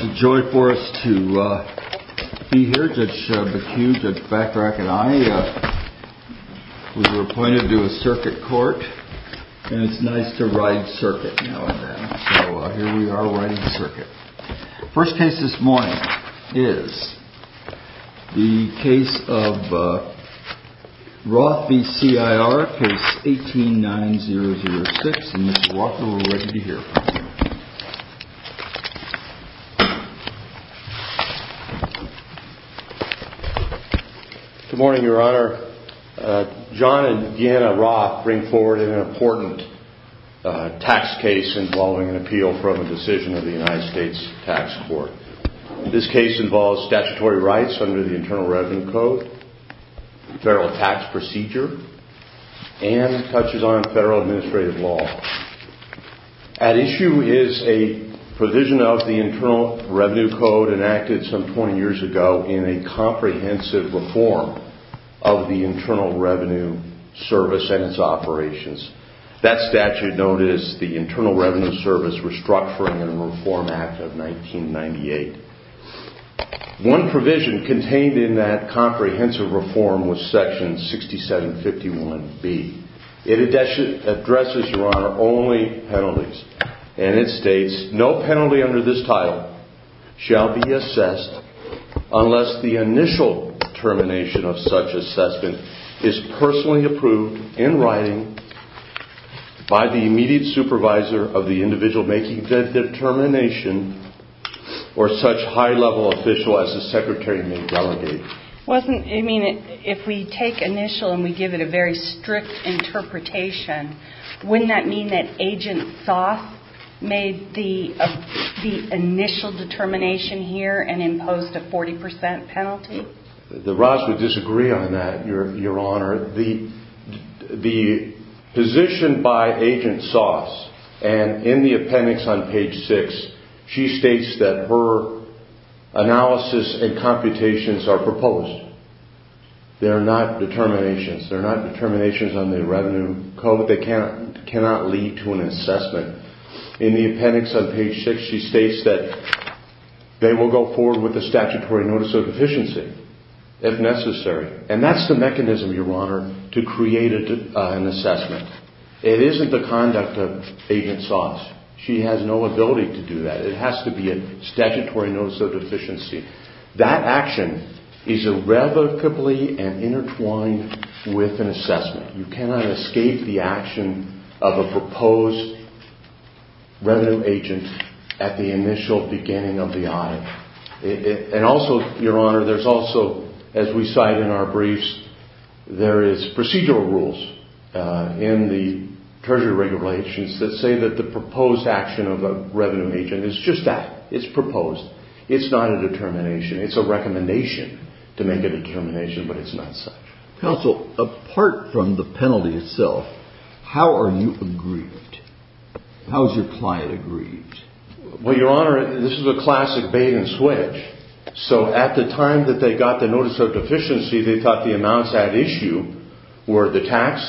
It's a joy for us to be here, Judge Bacuse, Judge Backtrack and I. We were appointed to a circuit court, and it's nice to ride circuit now and then. So here we are riding circuit. First case this morning is the case of Roth v. CIR, case 18-9006. Mr. Roth, we're ready to hear from you. Good morning, Your Honor. John and Deanna Roth bring forward an important tax case involving an appeal from a decision of the United States Tax Court. This case involves statutory rights under the Internal Revenue Code, federal tax procedure, and touches on federal administrative law. At issue is a provision of the Internal Revenue Code enacted some 20 years ago in a comprehensive reform of the Internal Revenue Service and its operations. That statute known as the Internal Revenue Service Restructuring and Reform Act of 1998. One provision contained in that comprehensive reform was section 6751B. It addresses, Your Honor, only penalties. And it states, no penalty under this title shall be assessed unless the initial determination of such assessment is personally approved in writing by the immediate supervisor of the individual making the determination or such determination. If we take initial and we give it a very strict interpretation, wouldn't that mean that Agent Soss made the initial determination here and imposed a 40% penalty? I think that Roth would disagree on that, Your Honor. The position by Agent Soss, and in the appendix on page 6, she states that her analysis and computations are proposed. They're not determinations. They're not determinations on the revenue code. They cannot lead to an assessment. In the appendix on page 6, she states that they will go forward with a statutory notice of deficiency if necessary. And that's the mechanism, Your Honor, to create an assessment. It isn't the conduct of Agent Soss. She has no ability to do that. It has to be a statutory notice of deficiency. That action is irrevocably and intertwined with an assessment. You cannot escape the action of a proposed revenue agent at the initial beginning of the audit. And also, Your Honor, there's also, as we cite in our briefs, there is procedural rules in the Treasury regulations that say that the proposed action of a revenue agent is just that. It's proposed. It's not a determination. It's a recommendation to make a determination, but it's not such. Counsel, apart from the penalty itself, how are you aggrieved? How is your client aggrieved? Well, Your Honor, this is a classic bait-and-switch. So at the time that they got the notice of deficiency, they thought the amounts at issue were the tax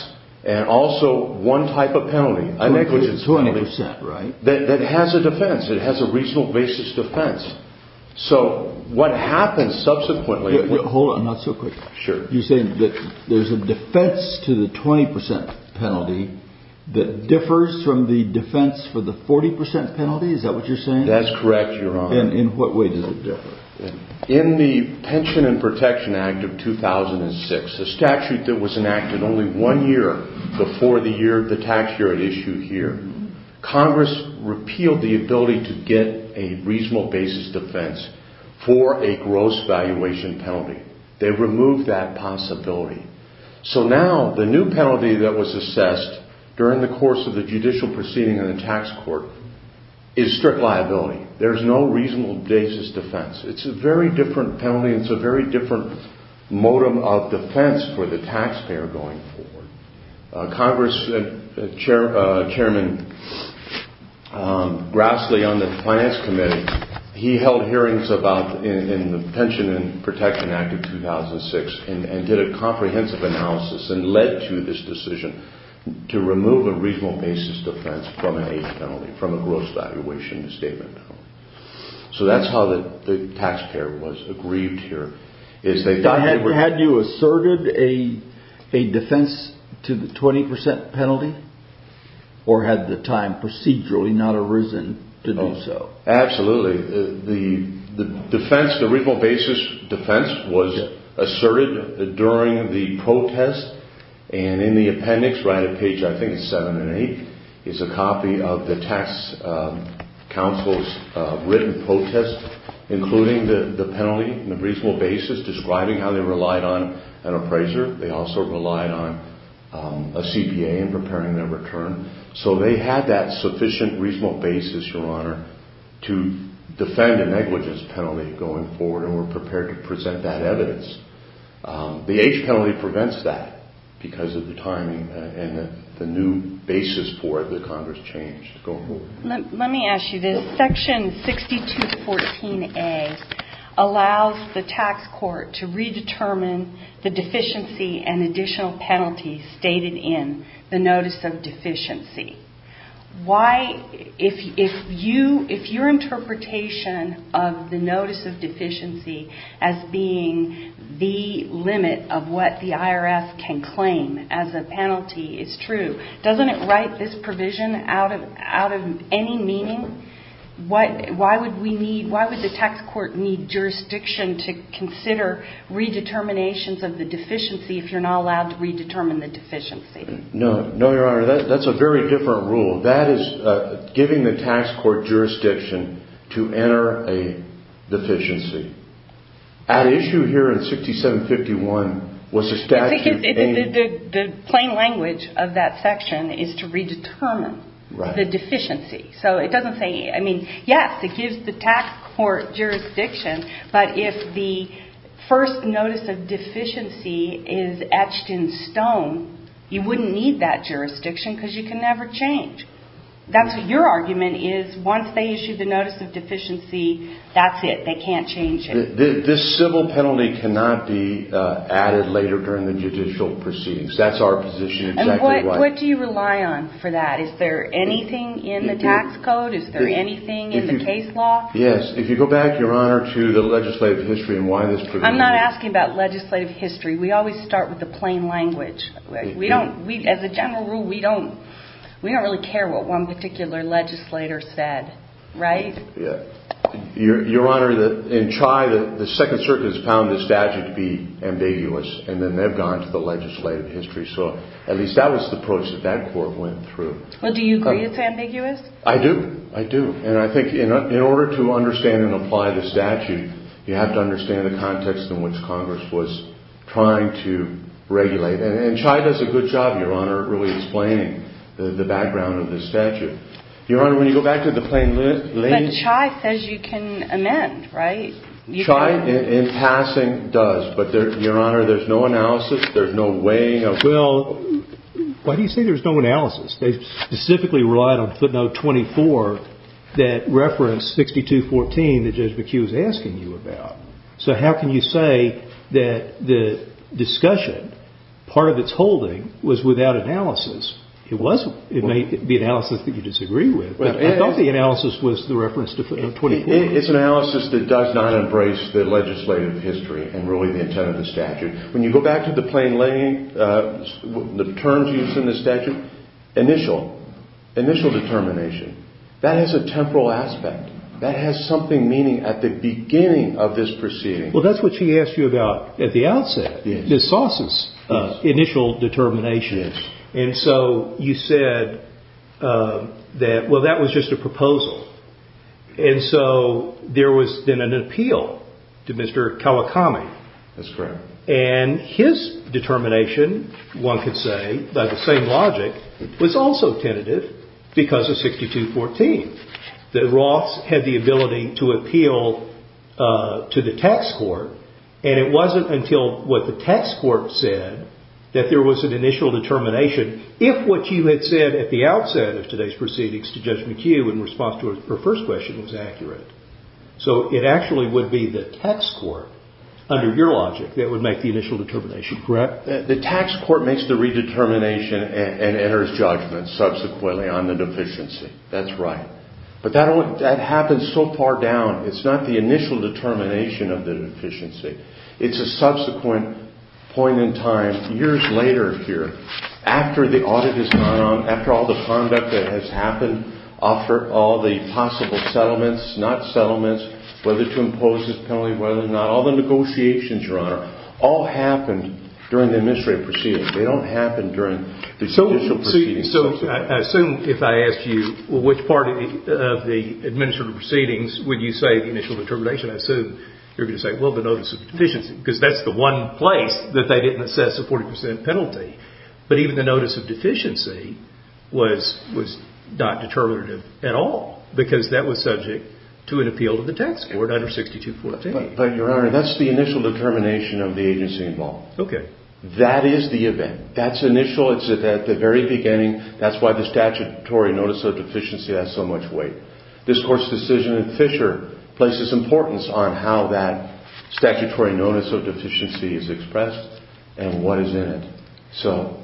and also one type of penalty, a negligence penalty. 20%, right? That has a defense. It has a reasonable basis defense. So what happens subsequently… Hold on, not so quick. You're saying that there's a defense to the 20% penalty that differs from the defense for the 40% penalty? Is that what you're saying? That's correct, Your Honor. And in what way does it differ? In the Pension and Protection Act of 2006, a statute that was enacted only one year before the tax year at issue here, Congress repealed the ability to get a reasonable basis defense for a gross valuation penalty. They removed that possibility. So now the new penalty that was assessed during the course of the judicial proceeding in the tax court is strict liability. There's no reasonable basis defense. It's a very different penalty and it's a very different modem of defense for the taxpayer going forward. Congress Chairman Grassley on the Finance Committee, he held hearings in the Pension and Protection Act of 2006 and did a comprehensive analysis and led to this decision to remove a reasonable basis defense from a gross valuation statement. So that's how the taxpayer was aggrieved here. Had you asserted a defense to the 20% penalty or had the time procedurally not arisen to do so? They relied on an appraiser. They also relied on a CPA in preparing their return. So they had that sufficient reasonable basis, Your Honor, to defend a negligence penalty going forward and were prepared to present that evidence. The age penalty prevents that because of the timing and the new basis for it that Congress changed. Let me ask you this. Section 6214A allows the tax court to redetermine the deficiency and additional penalties stated in the Notice of Deficiency. If your interpretation of the Notice of Deficiency as being the limit of what the IRS can claim as a penalty is true, doesn't it write this provision out of any meaning? Why would the tax court need jurisdiction to consider redeterminations of the deficiency if you're not allowed to redetermine the deficiency? No, Your Honor, that's a very different rule. That is giving the tax court jurisdiction to enter a deficiency. At issue here in 6751 was the statute aimed... The plain language of that section is to redetermine the deficiency. So it doesn't say... I mean, yes, it gives the tax court jurisdiction, but if the first Notice of Deficiency is etched in stone, you wouldn't need that jurisdiction because you can never change. That's what your argument is. Once they issue the Notice of Deficiency, that's it. They can't change it. This civil penalty cannot be added later during the judicial proceedings. That's our position. What do you rely on for that? Is there anything in the tax code? Is there anything in the case law? Yes. If you go back, Your Honor, to the legislative history and why this provision... I'm not asking about legislative history. We always start with the plain language. As a general rule, we don't really care what one particular legislator said, right? Your Honor, in Chai, the Second Circuit has found this statute to be ambiguous, and then they've gone to the legislative history. So at least that was the approach that that court went through. Well, do you agree it's ambiguous? I do. I do. And I think in order to understand and apply the statute, you have to understand the context in which Congress was trying to regulate. And Chai does a good job, Your Honor, really explaining the background of this statute. Your Honor, when you go back to the plain language... But Chai says you can amend, right? Chai, in passing, does. But, Your Honor, there's no analysis. There's no weighing of... Well, why do you say there's no analysis? They specifically relied on footnote 24 that referenced 6214 that Judge McHugh was asking you about. So how can you say that the discussion, part of its holding, was without analysis? It was. It may be analysis that you disagree with, but I thought the analysis was the reference to footnote 24. It's analysis that does not embrace the legislative history and really the intent of the statute. When you go back to the plain language, the terms used in the statute, initial, initial determination. That has a temporal aspect. That has something meaning at the beginning of this proceeding. Well, that's what she asked you about at the outset. Yes. Initial determination. Yes. And so you said that, well, that was just a proposal. And so there was then an appeal to Mr. Kawakami. That's correct. And his determination, one could say, by the same logic, was also tentative because of 6214. That Roths had the ability to appeal to the tax court. And it wasn't until what the tax court said that there was an initial determination, if what you had said at the outset of today's proceedings to Judge McHugh in response to her first question was accurate. So it actually would be the tax court, under your logic, that would make the initial determination. Correct. The tax court makes the redetermination and enters judgment subsequently on the deficiency. That's right. But that happens so far down. It's not the initial determination of the deficiency. It's a subsequent point in time, years later here, after the audit has gone on, after all the conduct that has happened, after all the possible settlements, not settlements, whether to impose this penalty, whether not, all the negotiations, Your Honor, all happened during the administrative proceedings. They don't happen during the judicial proceedings. So I assume if I asked you which part of the administrative proceedings would you say the initial determination, I assume you're going to say, well, the notice of deficiency, because that's the one place that they didn't assess a 40 percent penalty. But even the notice of deficiency was not determinative at all, because that was subject to an appeal to the tax court under 6214. But, Your Honor, that's the initial determination of the agency involved. Okay. That is the event. That's initial. It's at the very beginning. That's why the statutory notice of deficiency has so much weight. This court's decision in Fisher places importance on how that statutory notice of deficiency is expressed and what is in it. So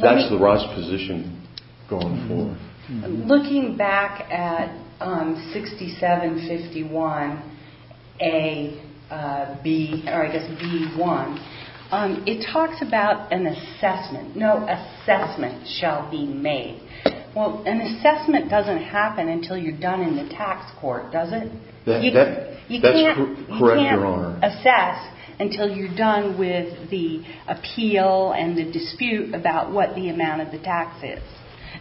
that's the Ross position going forward. Looking back at 6751A-B, or I guess B-1, it talks about an assessment. No assessment shall be made. Well, an assessment doesn't happen until you're done in the tax court, does it? That's correct, Your Honor. You can't assess until you're done with the appeal and the dispute about what the amount of the tax is.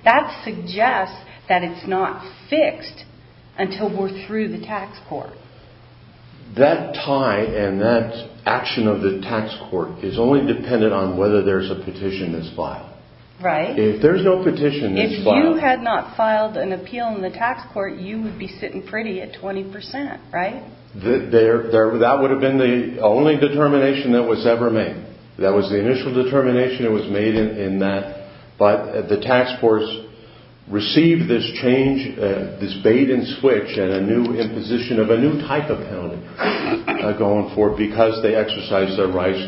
That suggests that it's not fixed until we're through the tax court. That tie and that action of the tax court is only dependent on whether there's a petition that's filed. Right. If there's no petition that's filed... If you had not filed an appeal in the tax court, you would be sitting pretty at 20 percent, right? That would have been the only determination that was ever made. That was the initial determination that was made in that. But the tax courts received this change, this bait and switch, and a new imposition of a new type of penalty going forward because they exercised their rights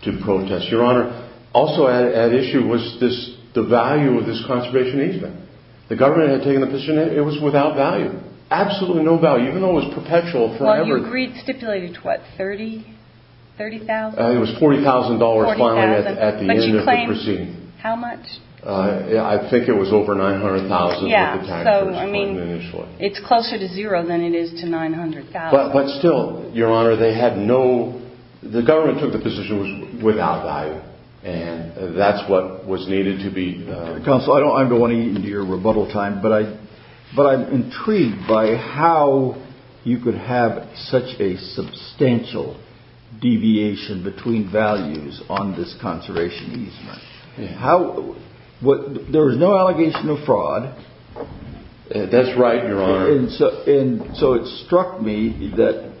to protest. Your Honor, also at issue was the value of this conservation easement. The government had taken the petition. It was without value. Absolutely no value, even though it was perpetual forever. Well, you agreed stipulated to what, $30,000? $30,000? It was $40,000 finally at the end of the proceeding. But you claim how much? I think it was over $900,000. Yeah, so I mean it's closer to zero than it is to $900,000. But still, Your Honor, they had no... The government took the position it was without value, and that's what was needed to be... Counsel, I don't want to eat into your rebuttal time, but I'm intrigued by how you could have such a substantial deviation between values on this conservation easement. There was no allegation of fraud. That's right, Your Honor. And so it struck me that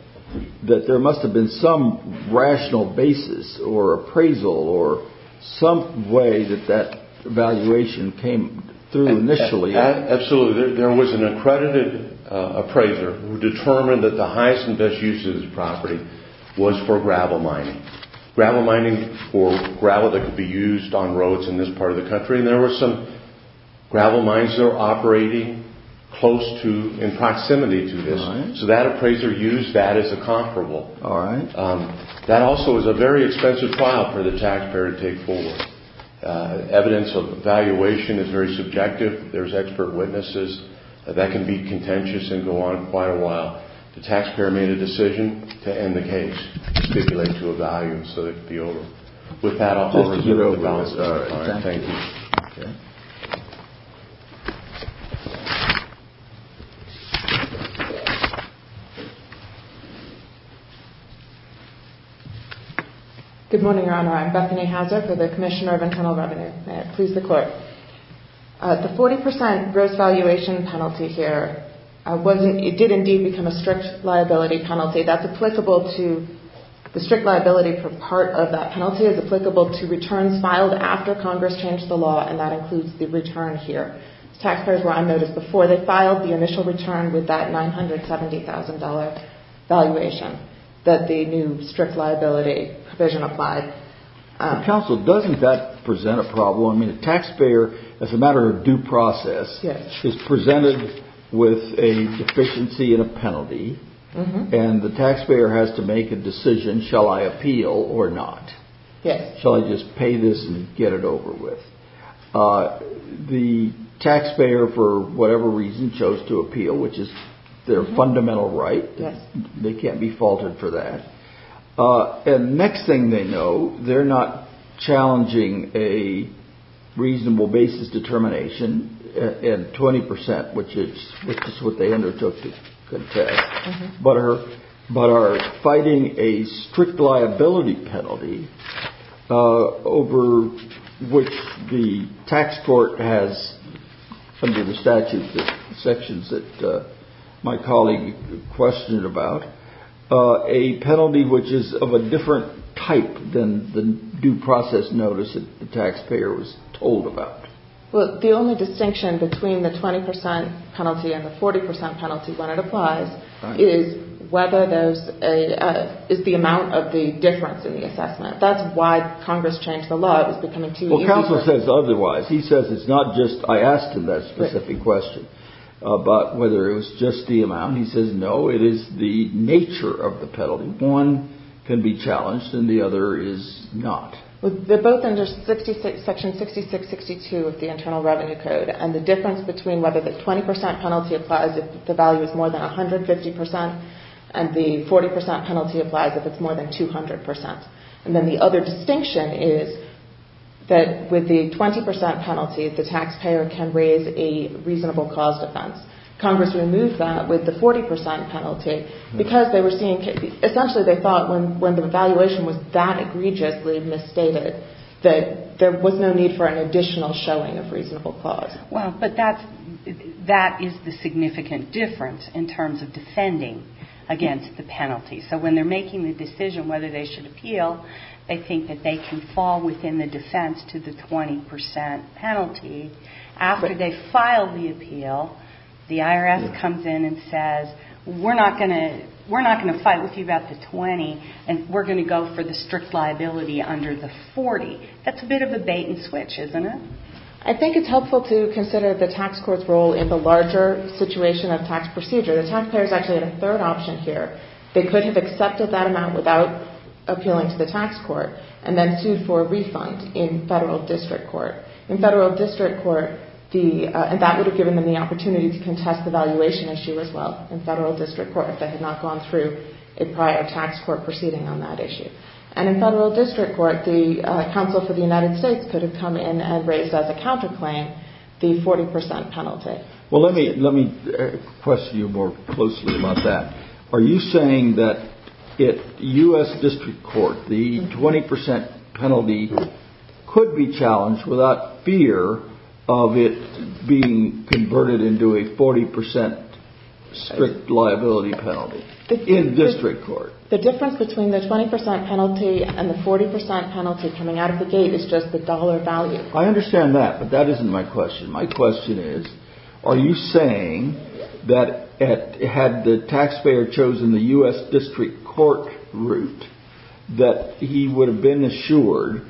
there must have been some rational basis or appraisal or some way that that evaluation came through initially. Absolutely. There was an accredited appraiser who determined that the highest and best use of this property was for gravel mining. Gravel mining for gravel that could be used on roads in this part of the country. And there were some gravel mines there operating close to, in proximity to this. So that appraiser used that as a comparable. All right. That also was a very expensive trial for the taxpayer to take forward. Evidence of evaluation is very subjective. There's expert witnesses. That can be contentious and go on quite a while. The taxpayer made a decision to end the case, stipulate to a value so that it could be over. With that, I'll close with the balance. All right. Thank you. Good morning, Your Honor. I'm Bethany Hauser for the Commissioner of Internal Revenue. May it please the Court. The 40% gross valuation penalty here, it did indeed become a strict liability penalty. That's applicable to, the strict liability for part of that penalty is applicable to returns filed after Congress changed the law. And that includes the return here. Taxpayers were unnoticed before. They filed the initial return with that $970,000 valuation that the new strict liability provision applied. Counsel, doesn't that present a problem? A taxpayer, as a matter of due process, is presented with a deficiency in a penalty. And the taxpayer has to make a decision, shall I appeal or not? Shall I just pay this and get it over with? The taxpayer, for whatever reason, chose to appeal, which is their fundamental right. They can't be faulted for that. And next thing they know, they're not challenging a reasonable basis determination in 20%, which is what they undertook to contest, but are fighting a strict liability penalty over which the tax court has, under the statute, the sections that my colleague questioned about, a penalty which is of a different type than the due process notice that the taxpayer was told about. Well, the only distinction between the 20% penalty and the 40% penalty when it applies is whether there's a, is the amount of the difference in the assessment. That's why Congress changed the law. Well, Counsel says otherwise. He says it's not just, I asked him that specific question about whether it was just the amount. He says, no, it is the nature of the penalty. One can be challenged and the other is not. They're both under section 6662 of the Internal Revenue Code. And the difference between whether the 20% penalty applies if the value is more than 150% and the 40% penalty applies if it's more than 200%. And then the other distinction is that with the 20% penalty, the taxpayer can raise a reasonable cause defense. Congress removed that with the 40% penalty because they were seeing, essentially they thought when the evaluation was that egregiously misstated, that there was no need for an additional showing of reasonable cause. Well, but that's, that is the significant difference in terms of defending against the penalty. So when they're making the decision whether they should appeal, they think that they can fall within the defense to the 20% penalty. After they file the appeal, the IRS comes in and says, we're not going to, we're not going to fight with you about the 20% and we're going to go for the strict liability under the 40%. That's a bit of a bait and switch, isn't it? I think it's helpful to consider the tax court's role in the larger situation of tax procedure. The taxpayers actually had a third option here. They could have accepted that amount without appealing to the tax court and then sued for a refund in federal district court. In federal district court, the, and that would have given them the opportunity to contest the valuation issue as well in federal district court if they had not gone through a prior tax court proceeding on that issue. And in federal district court, the counsel for the United States could have come in and raised as a counterclaim the 40% penalty. Well, let me, let me question you more closely about that. Are you saying that at U.S. district court, the 20% penalty could be challenged without fear of it being converted into a 40% strict liability penalty in district court? The difference between the 20% penalty and the 40% penalty coming out of the gate is just the dollar value. I understand that, but that isn't my question. My question is, are you saying that at, had the taxpayer chosen the U.S. district court route, that he would have been assured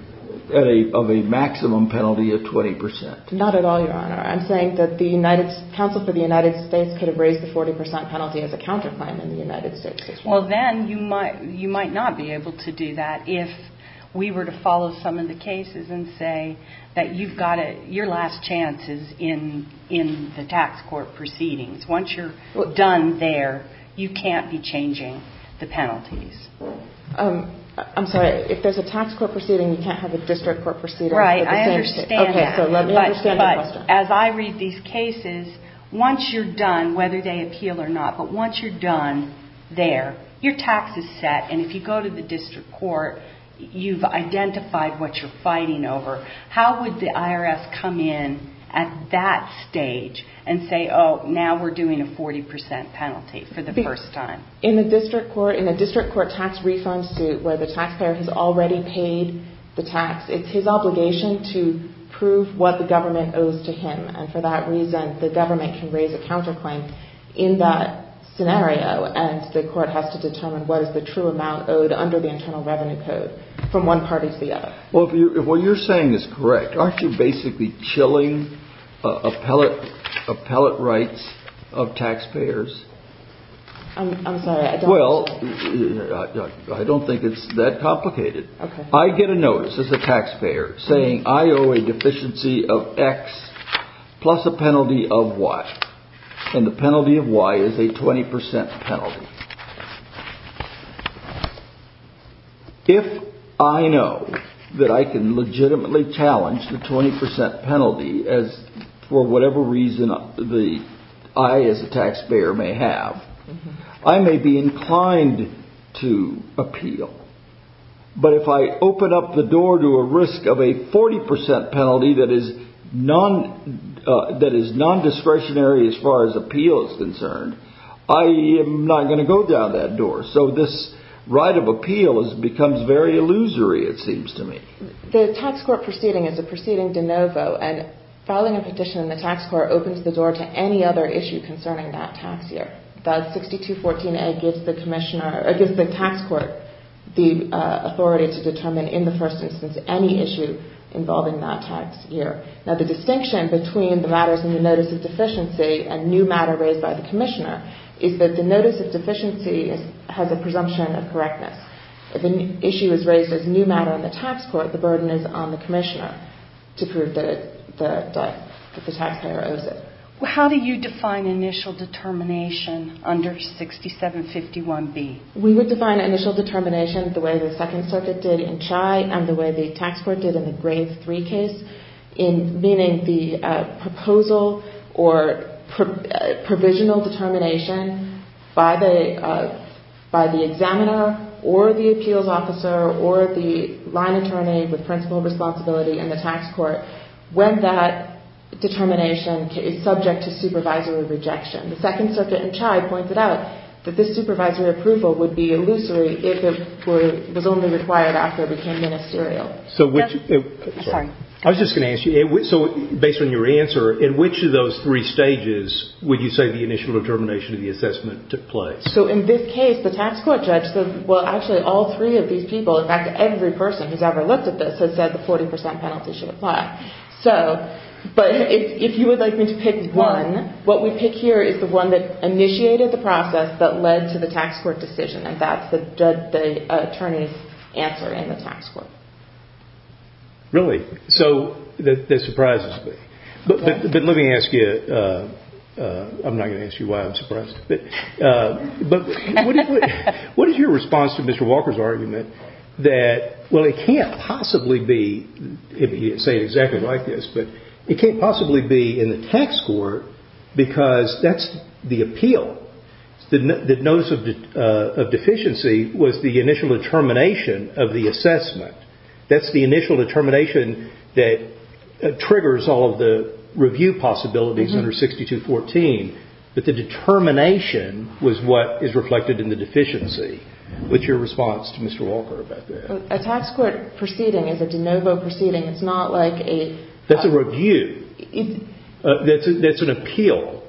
of a maximum penalty of 20%? Not at all, Your Honor. I'm saying that the United, counsel for the United States could have raised the 40% penalty as a counterclaim in the United States. Well, then you might, you might not be able to do that if we were to follow some of the cases and say that you've got your last chances in, in the tax court proceedings. Once you're done there, you can't be changing the penalties. I'm sorry, if there's a tax court proceeding, you can't have a district court proceeding? Right, I understand that. Okay, so let me understand your question. As I read these cases, once you're done, whether they appeal or not, but once you're done there, your tax is set, and if you go to the district court, you've identified what you're fighting over. How would the IRS come in at that stage and say, oh, now we're doing a 40% penalty for the first time? In the district court, in a district court tax refund suit where the taxpayer has already paid the tax, it's his obligation to prove what the government owes to him. And for that reason, the government can raise a counterclaim in that scenario, and the court has to determine what is the true amount owed under the Internal Revenue Code from one party to the other. Well, if what you're saying is correct, aren't you basically chilling appellate, appellate rights of taxpayers? I'm sorry, I don't. Well, I don't think it's that complicated. I get a notice as a taxpayer saying I owe a deficiency of X plus a penalty of Y, and the penalty of Y is a 20% penalty. If I know that I can legitimately challenge the 20% penalty for whatever reason I as a taxpayer may have, I may be inclined to appeal. But if I open up the door to a risk of a 40% penalty that is non-discretionary as far as appeal is concerned, I am not going to go down that door. So this right of appeal becomes very illusory, it seems to me. The tax court proceeding is a proceeding de novo, and filing a petition in the tax court opens the door to any other issue concerning that tax year. Thus, 6214A gives the tax court the authority to determine in the first instance any issue involving that tax year. Now, the distinction between the matters in the notice of deficiency and new matter raised by the commissioner is that the notice of deficiency has a presumption of correctness. If an issue is raised as new matter in the tax court, the burden is on the commissioner to prove that the taxpayer owes it. How do you define initial determination under 6751B? We would define initial determination the way the Second Circuit did in CHI and the way the tax court did in the Grade 3 case, meaning the proposal or provisional determination by the examiner or the appeals officer or the line attorney with principal responsibility in the tax court when that determination is subject to supervisory rejection. The Second Circuit in CHI pointed out that this supervisory approval would be illusory if it was only required after it became ministerial. I was just going to ask you, based on your answer, in which of those three stages would you say the initial determination of the assessment took place? In this case, the tax court judge said, well, actually all three of these people, in fact, every person who's ever looked at this has said the 40% penalty should apply. But if you would like me to pick one, what we pick here is the one that initiated the process that led to the tax court decision, and that's the attorney's answer in the tax court. Really? So that surprises me. But let me ask you, I'm not going to ask you why I'm surprised, but what is your response to Mr. Walker's argument that, well, it can't possibly be, if you say it exactly like this, but it can't possibly be in the tax court because that's the appeal. The notice of deficiency was the initial determination of the assessment. That's the initial determination that triggers all of the review possibilities under 6214, but the determination was what is reflected in the deficiency. What's your response to Mr. Walker about that? A tax court proceeding is a de novo proceeding. It's not like a... That's an appeal,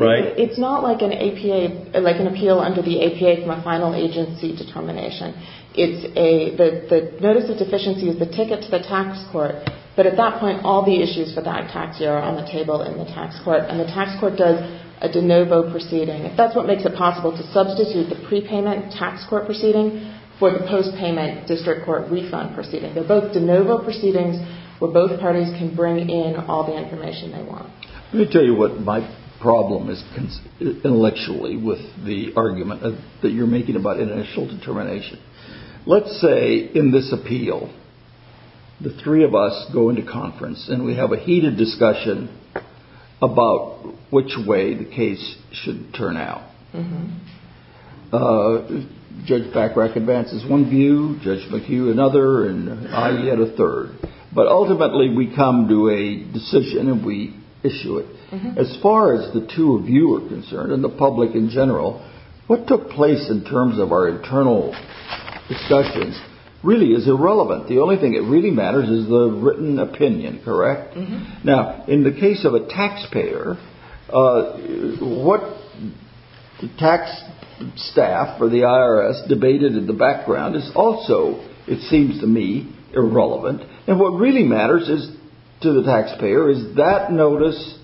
right? It's not like an appeal under the APA from a final agency determination. The notice of deficiency is the ticket to the tax court, but at that point all the issues for that tax year are on the table in the tax court, and the tax court does a de novo proceeding. That's what makes it possible to substitute the prepayment tax court proceeding for the postpayment district court refund proceeding. They're both de novo proceedings where both parties can bring in all the information they want. Let me tell you what my problem is intellectually with the argument that you're making about initial determination. Let's say in this appeal the three of us go into conference, and we have a heated discussion about which way the case should turn out. Judge Bachrach advances one view, Judge McHugh another, and I get a third. But ultimately we come to a decision and we issue it. As far as the two of you are concerned and the public in general, what took place in terms of our internal discussions really is irrelevant. The only thing that really matters is the written opinion, correct? Now, in the case of a taxpayer, what the tax staff or the IRS debated in the background is also, it seems to me, irrelevant. And what really matters to the taxpayer is that notice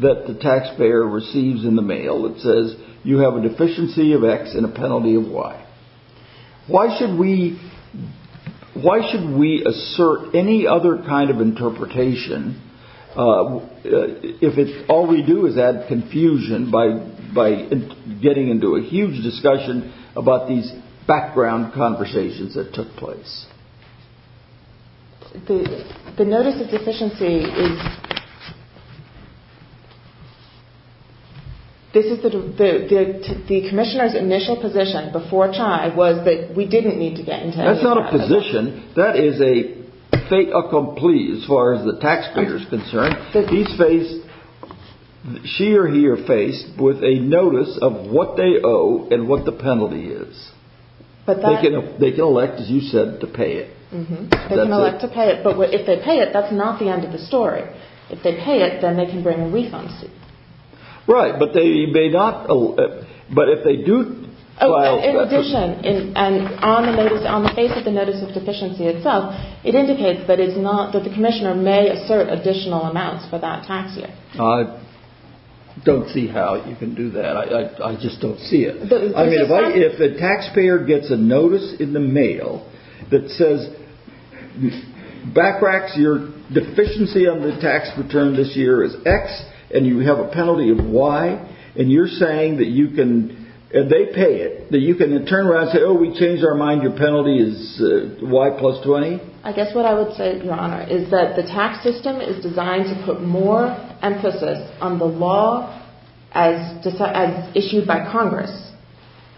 that the taxpayer receives in the mail that says you have a deficiency of X and a penalty of Y. Why should we assert any other kind of interpretation if all we do is add confusion by getting into a huge discussion about these background conversations that took place? The notice of deficiency is... The commissioner's initial position before CHI was that we didn't need to get into any discussion. That's not a position. That is a fait accompli as far as the taxpayer is concerned. He's faced, she or he are faced with a notice of what they owe and what the penalty is. They can elect, as you said, to pay it. They can elect to pay it, but if they pay it, that's not the end of the story. If they pay it, then they can bring a refund suit. Right, but they may not... In addition, on the face of the notice of deficiency itself, it indicates that the commissioner may assert additional amounts for that tax year. I don't see how you can do that. I just don't see it. I mean, if a taxpayer gets a notice in the mail that says, BACRAX, your deficiency on the tax return this year is X, and you have a penalty of Y, and you're saying that you can, and they pay it, that you can turn around and say, oh, we changed our mind, your penalty is Y plus 20? I guess what I would say, Your Honor, is that the tax system is designed to put more emphasis on the law as issued by Congress,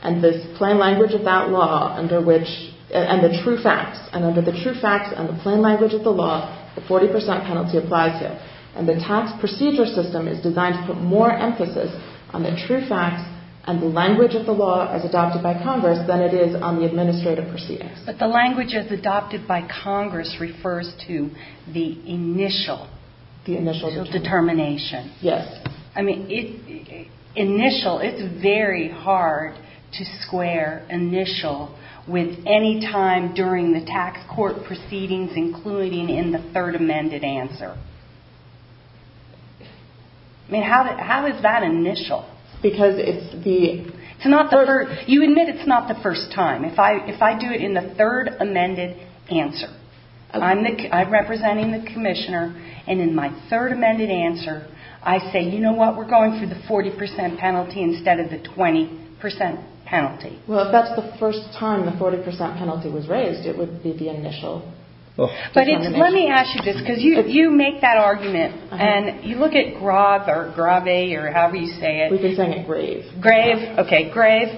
and the plain language of that law, and the true facts. And under the true facts and the plain language of the law, the 40% penalty applies here. And the tax procedure system is designed to put more emphasis on the true facts and the language of the law as adopted by Congress than it is on the administrative proceedings. But the language as adopted by Congress refers to the initial determination. Yes. I mean, initial, it's very hard to square initial with any time during the tax court proceedings, including in the third amended answer. I mean, how is that initial? Because it's the... You admit it's not the first time. If I do it in the third amended answer, I'm representing the commissioner, and in my third amended answer, I say, you know what, we're going for the 40% penalty instead of the 20% penalty. Well, if that's the first time the 40% penalty was raised, it would be the initial determination. But let me ask you this, because you make that argument, and you look at GRAV or GRAVE or however you say it. We've been saying it, grave. Grave, okay, grave.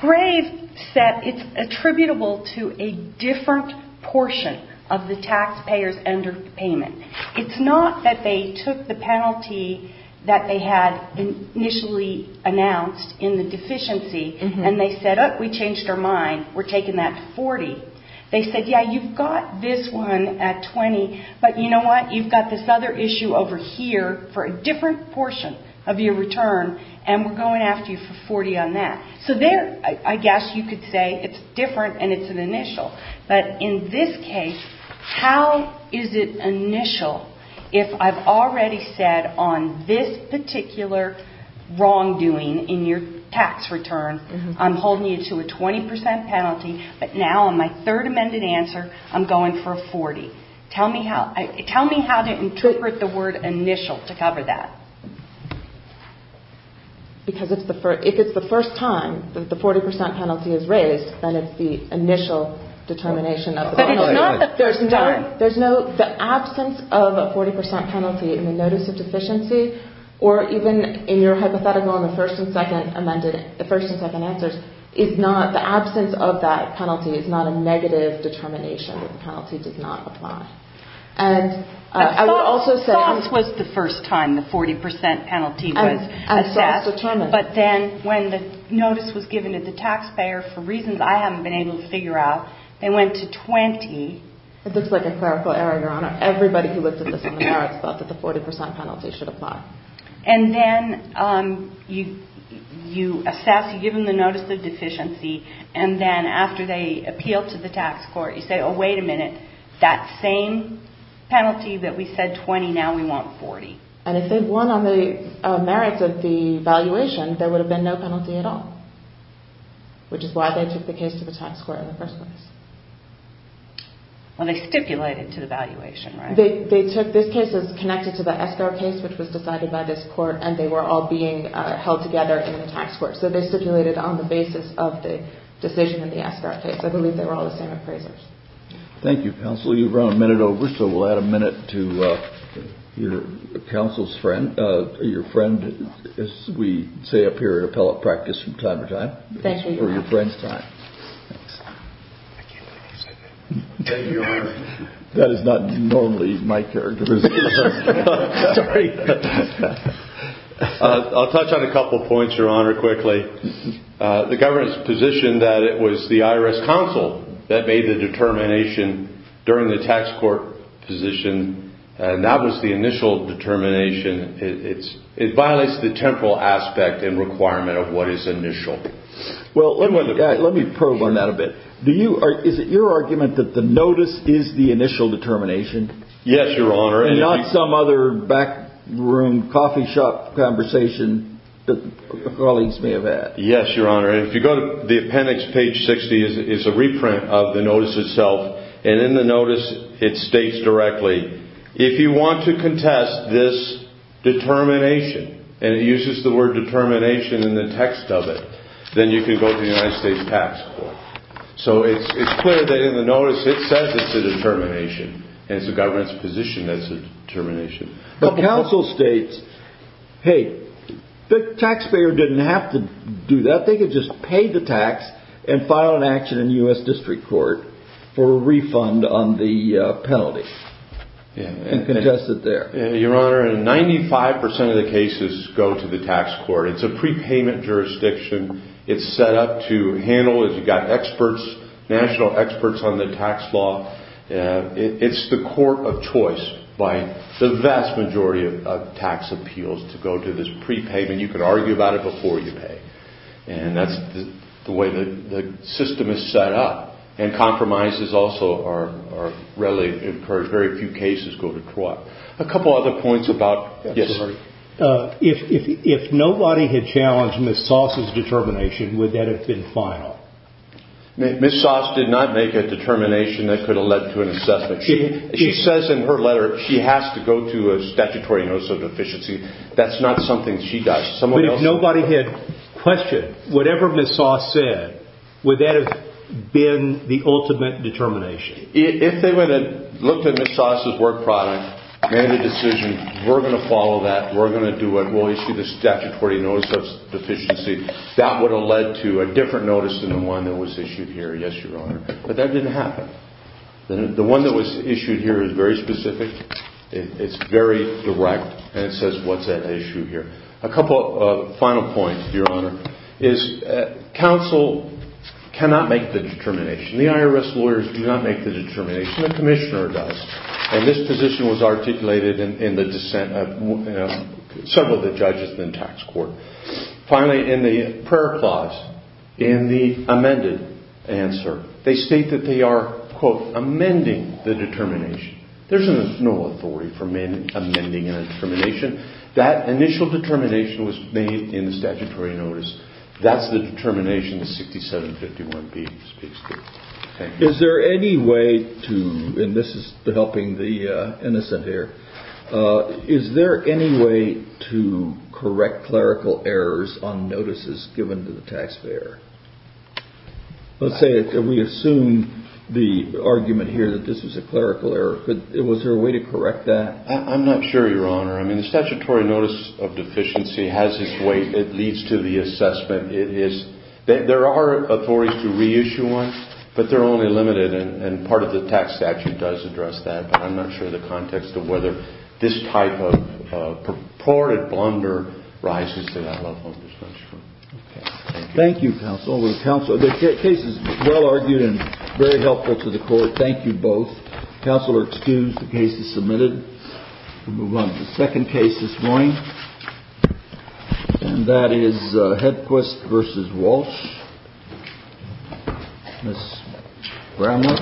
GRAVE said it's attributable to a different portion of the taxpayer's underpayment. It's not that they took the penalty that they had initially announced in the deficiency, and they said, oh, we changed our mind. We're taking that to 40. They said, yeah, you've got this one at 20, but you know what, you've got this other issue over here for a different portion of your return, and we're going after you for 40 on that. So there, I guess you could say it's different, and it's an initial. But in this case, how is it initial if I've already said on this particular wrongdoing in your tax return, I'm holding you to a 20% penalty, but now on my third amended answer, I'm going for a 40. Tell me how to interpret the word initial to cover that. Because if it's the first time that the 40% penalty is raised, then it's the initial determination of the penalty. But it's not the first time. There's no, the absence of a 40% penalty in the notice of deficiency, or even in your hypothetical in the first and second amended, the first and second answers, is not, the absence of that penalty is not a negative determination. The penalty does not apply. And I will also say- Thoughts was the first time the 40% penalty was assessed, but then when the notice was given to the taxpayer for reasons I haven't been able to figure out, they went to 20. It looks like a clerical error, Your Honor. Everybody who looked at this on the merits felt that the 40% penalty should apply. And then you assess, you give them the notice of deficiency, and then after they appeal to the tax court, you say, oh, wait a minute. That same penalty that we said 20, now we want 40. And if they won on the merits of the valuation, there would have been no penalty at all, which is why they took the case to the tax court in the first place. Well, they stipulated to the valuation, right? They took this case as connected to the escrow case, which was decided by this court, and they were all being held together in the tax court. So they stipulated on the basis of the decision in the escrow case. I believe they were all the same appraisers. Thank you, Counsel. You've run a minute over, so we'll add a minute to your counsel's friend. Your friend, as we say up here at appellate practice from time to time. Thank you, Your Honor. Or your friend's time. I can't believe you said that. Thank you, Your Honor. That is not normally my characteristic. Sorry. I'll touch on a couple points, Your Honor, quickly. The government's position that it was the IRS counsel that made the determination during the tax court position, and that was the initial determination. It violates the temporal aspect and requirement of what is initial. Well, let me probe on that a bit. Is it your argument that the notice is the initial determination? Yes, Your Honor. And not some other backroom coffee shop conversation that colleagues may have had. Yes, Your Honor. If you go to the appendix, page 60, it's a reprint of the notice itself, and in the notice it states directly, if you want to contest this determination, and it uses the word determination in the text of it, then you can go to the United States Tax Court. So it's clear that in the notice it says it's a determination, and it's the government's position that it's a determination. But counsel states, hey, the taxpayer didn't have to do that. They could just pay the tax and file an action in the U.S. District Court for a refund on the penalty and contest it there. Your Honor, 95% of the cases go to the tax court. It's a prepayment jurisdiction. It's set up to handle, as you've got experts, national experts on the tax law. It's the court of choice by the vast majority of tax appeals to go to this prepayment. You can argue about it before you pay. And that's the way the system is set up. And compromises also are readily encouraged. Very few cases go to trial. A couple other points about – yes, sir. If nobody had challenged Ms. Sauce's determination, would that have been final? Ms. Sauce did not make a determination that could have led to an assessment. She says in her letter she has to go to a statutory notice of deficiency. That's not something she does. But if nobody had questioned whatever Ms. Sauce said, would that have been the ultimate determination? If they would have looked at Ms. Sauce's work product and the decision, we're going to follow that, we're going to do it, we'll issue the statutory notice of deficiency, that would have led to a different notice than the one that was issued here, yes, Your Honor. But that didn't happen. The one that was issued here is very specific. It's very direct. And it says what's at issue here. A couple of final points, Your Honor, is counsel cannot make the determination. The IRS lawyers do not make the determination. The commissioner does. And this position was articulated in the dissent of several of the judges in the tax court. Finally, in the prayer clause, in the amended answer, they state that they are, quote, amending the determination. There's no authority for amending a determination. That initial determination was made in the statutory notice. That's the determination the 6751B speaks to. Thank you. Is there any way to, and this is helping the innocent here, is there any way to correct clerical errors on notices given to the taxpayer? Let's say we assume the argument here that this was a clerical error. Was there a way to correct that? I'm not sure, Your Honor. I mean, the statutory notice of deficiency has its weight. It leads to the assessment. There are authorities to reissue one, but they're only limited, and part of the tax statute does address that, but I'm not sure the context of whether this type of purported blunder rises to that level. Thank you, counsel. The case is well argued and very helpful to the court. Thank you both. Counsel are excused. The case is submitted. We'll move on to the second case this morning, and that is Hedquist v. Walsh. Ms. Bramlett.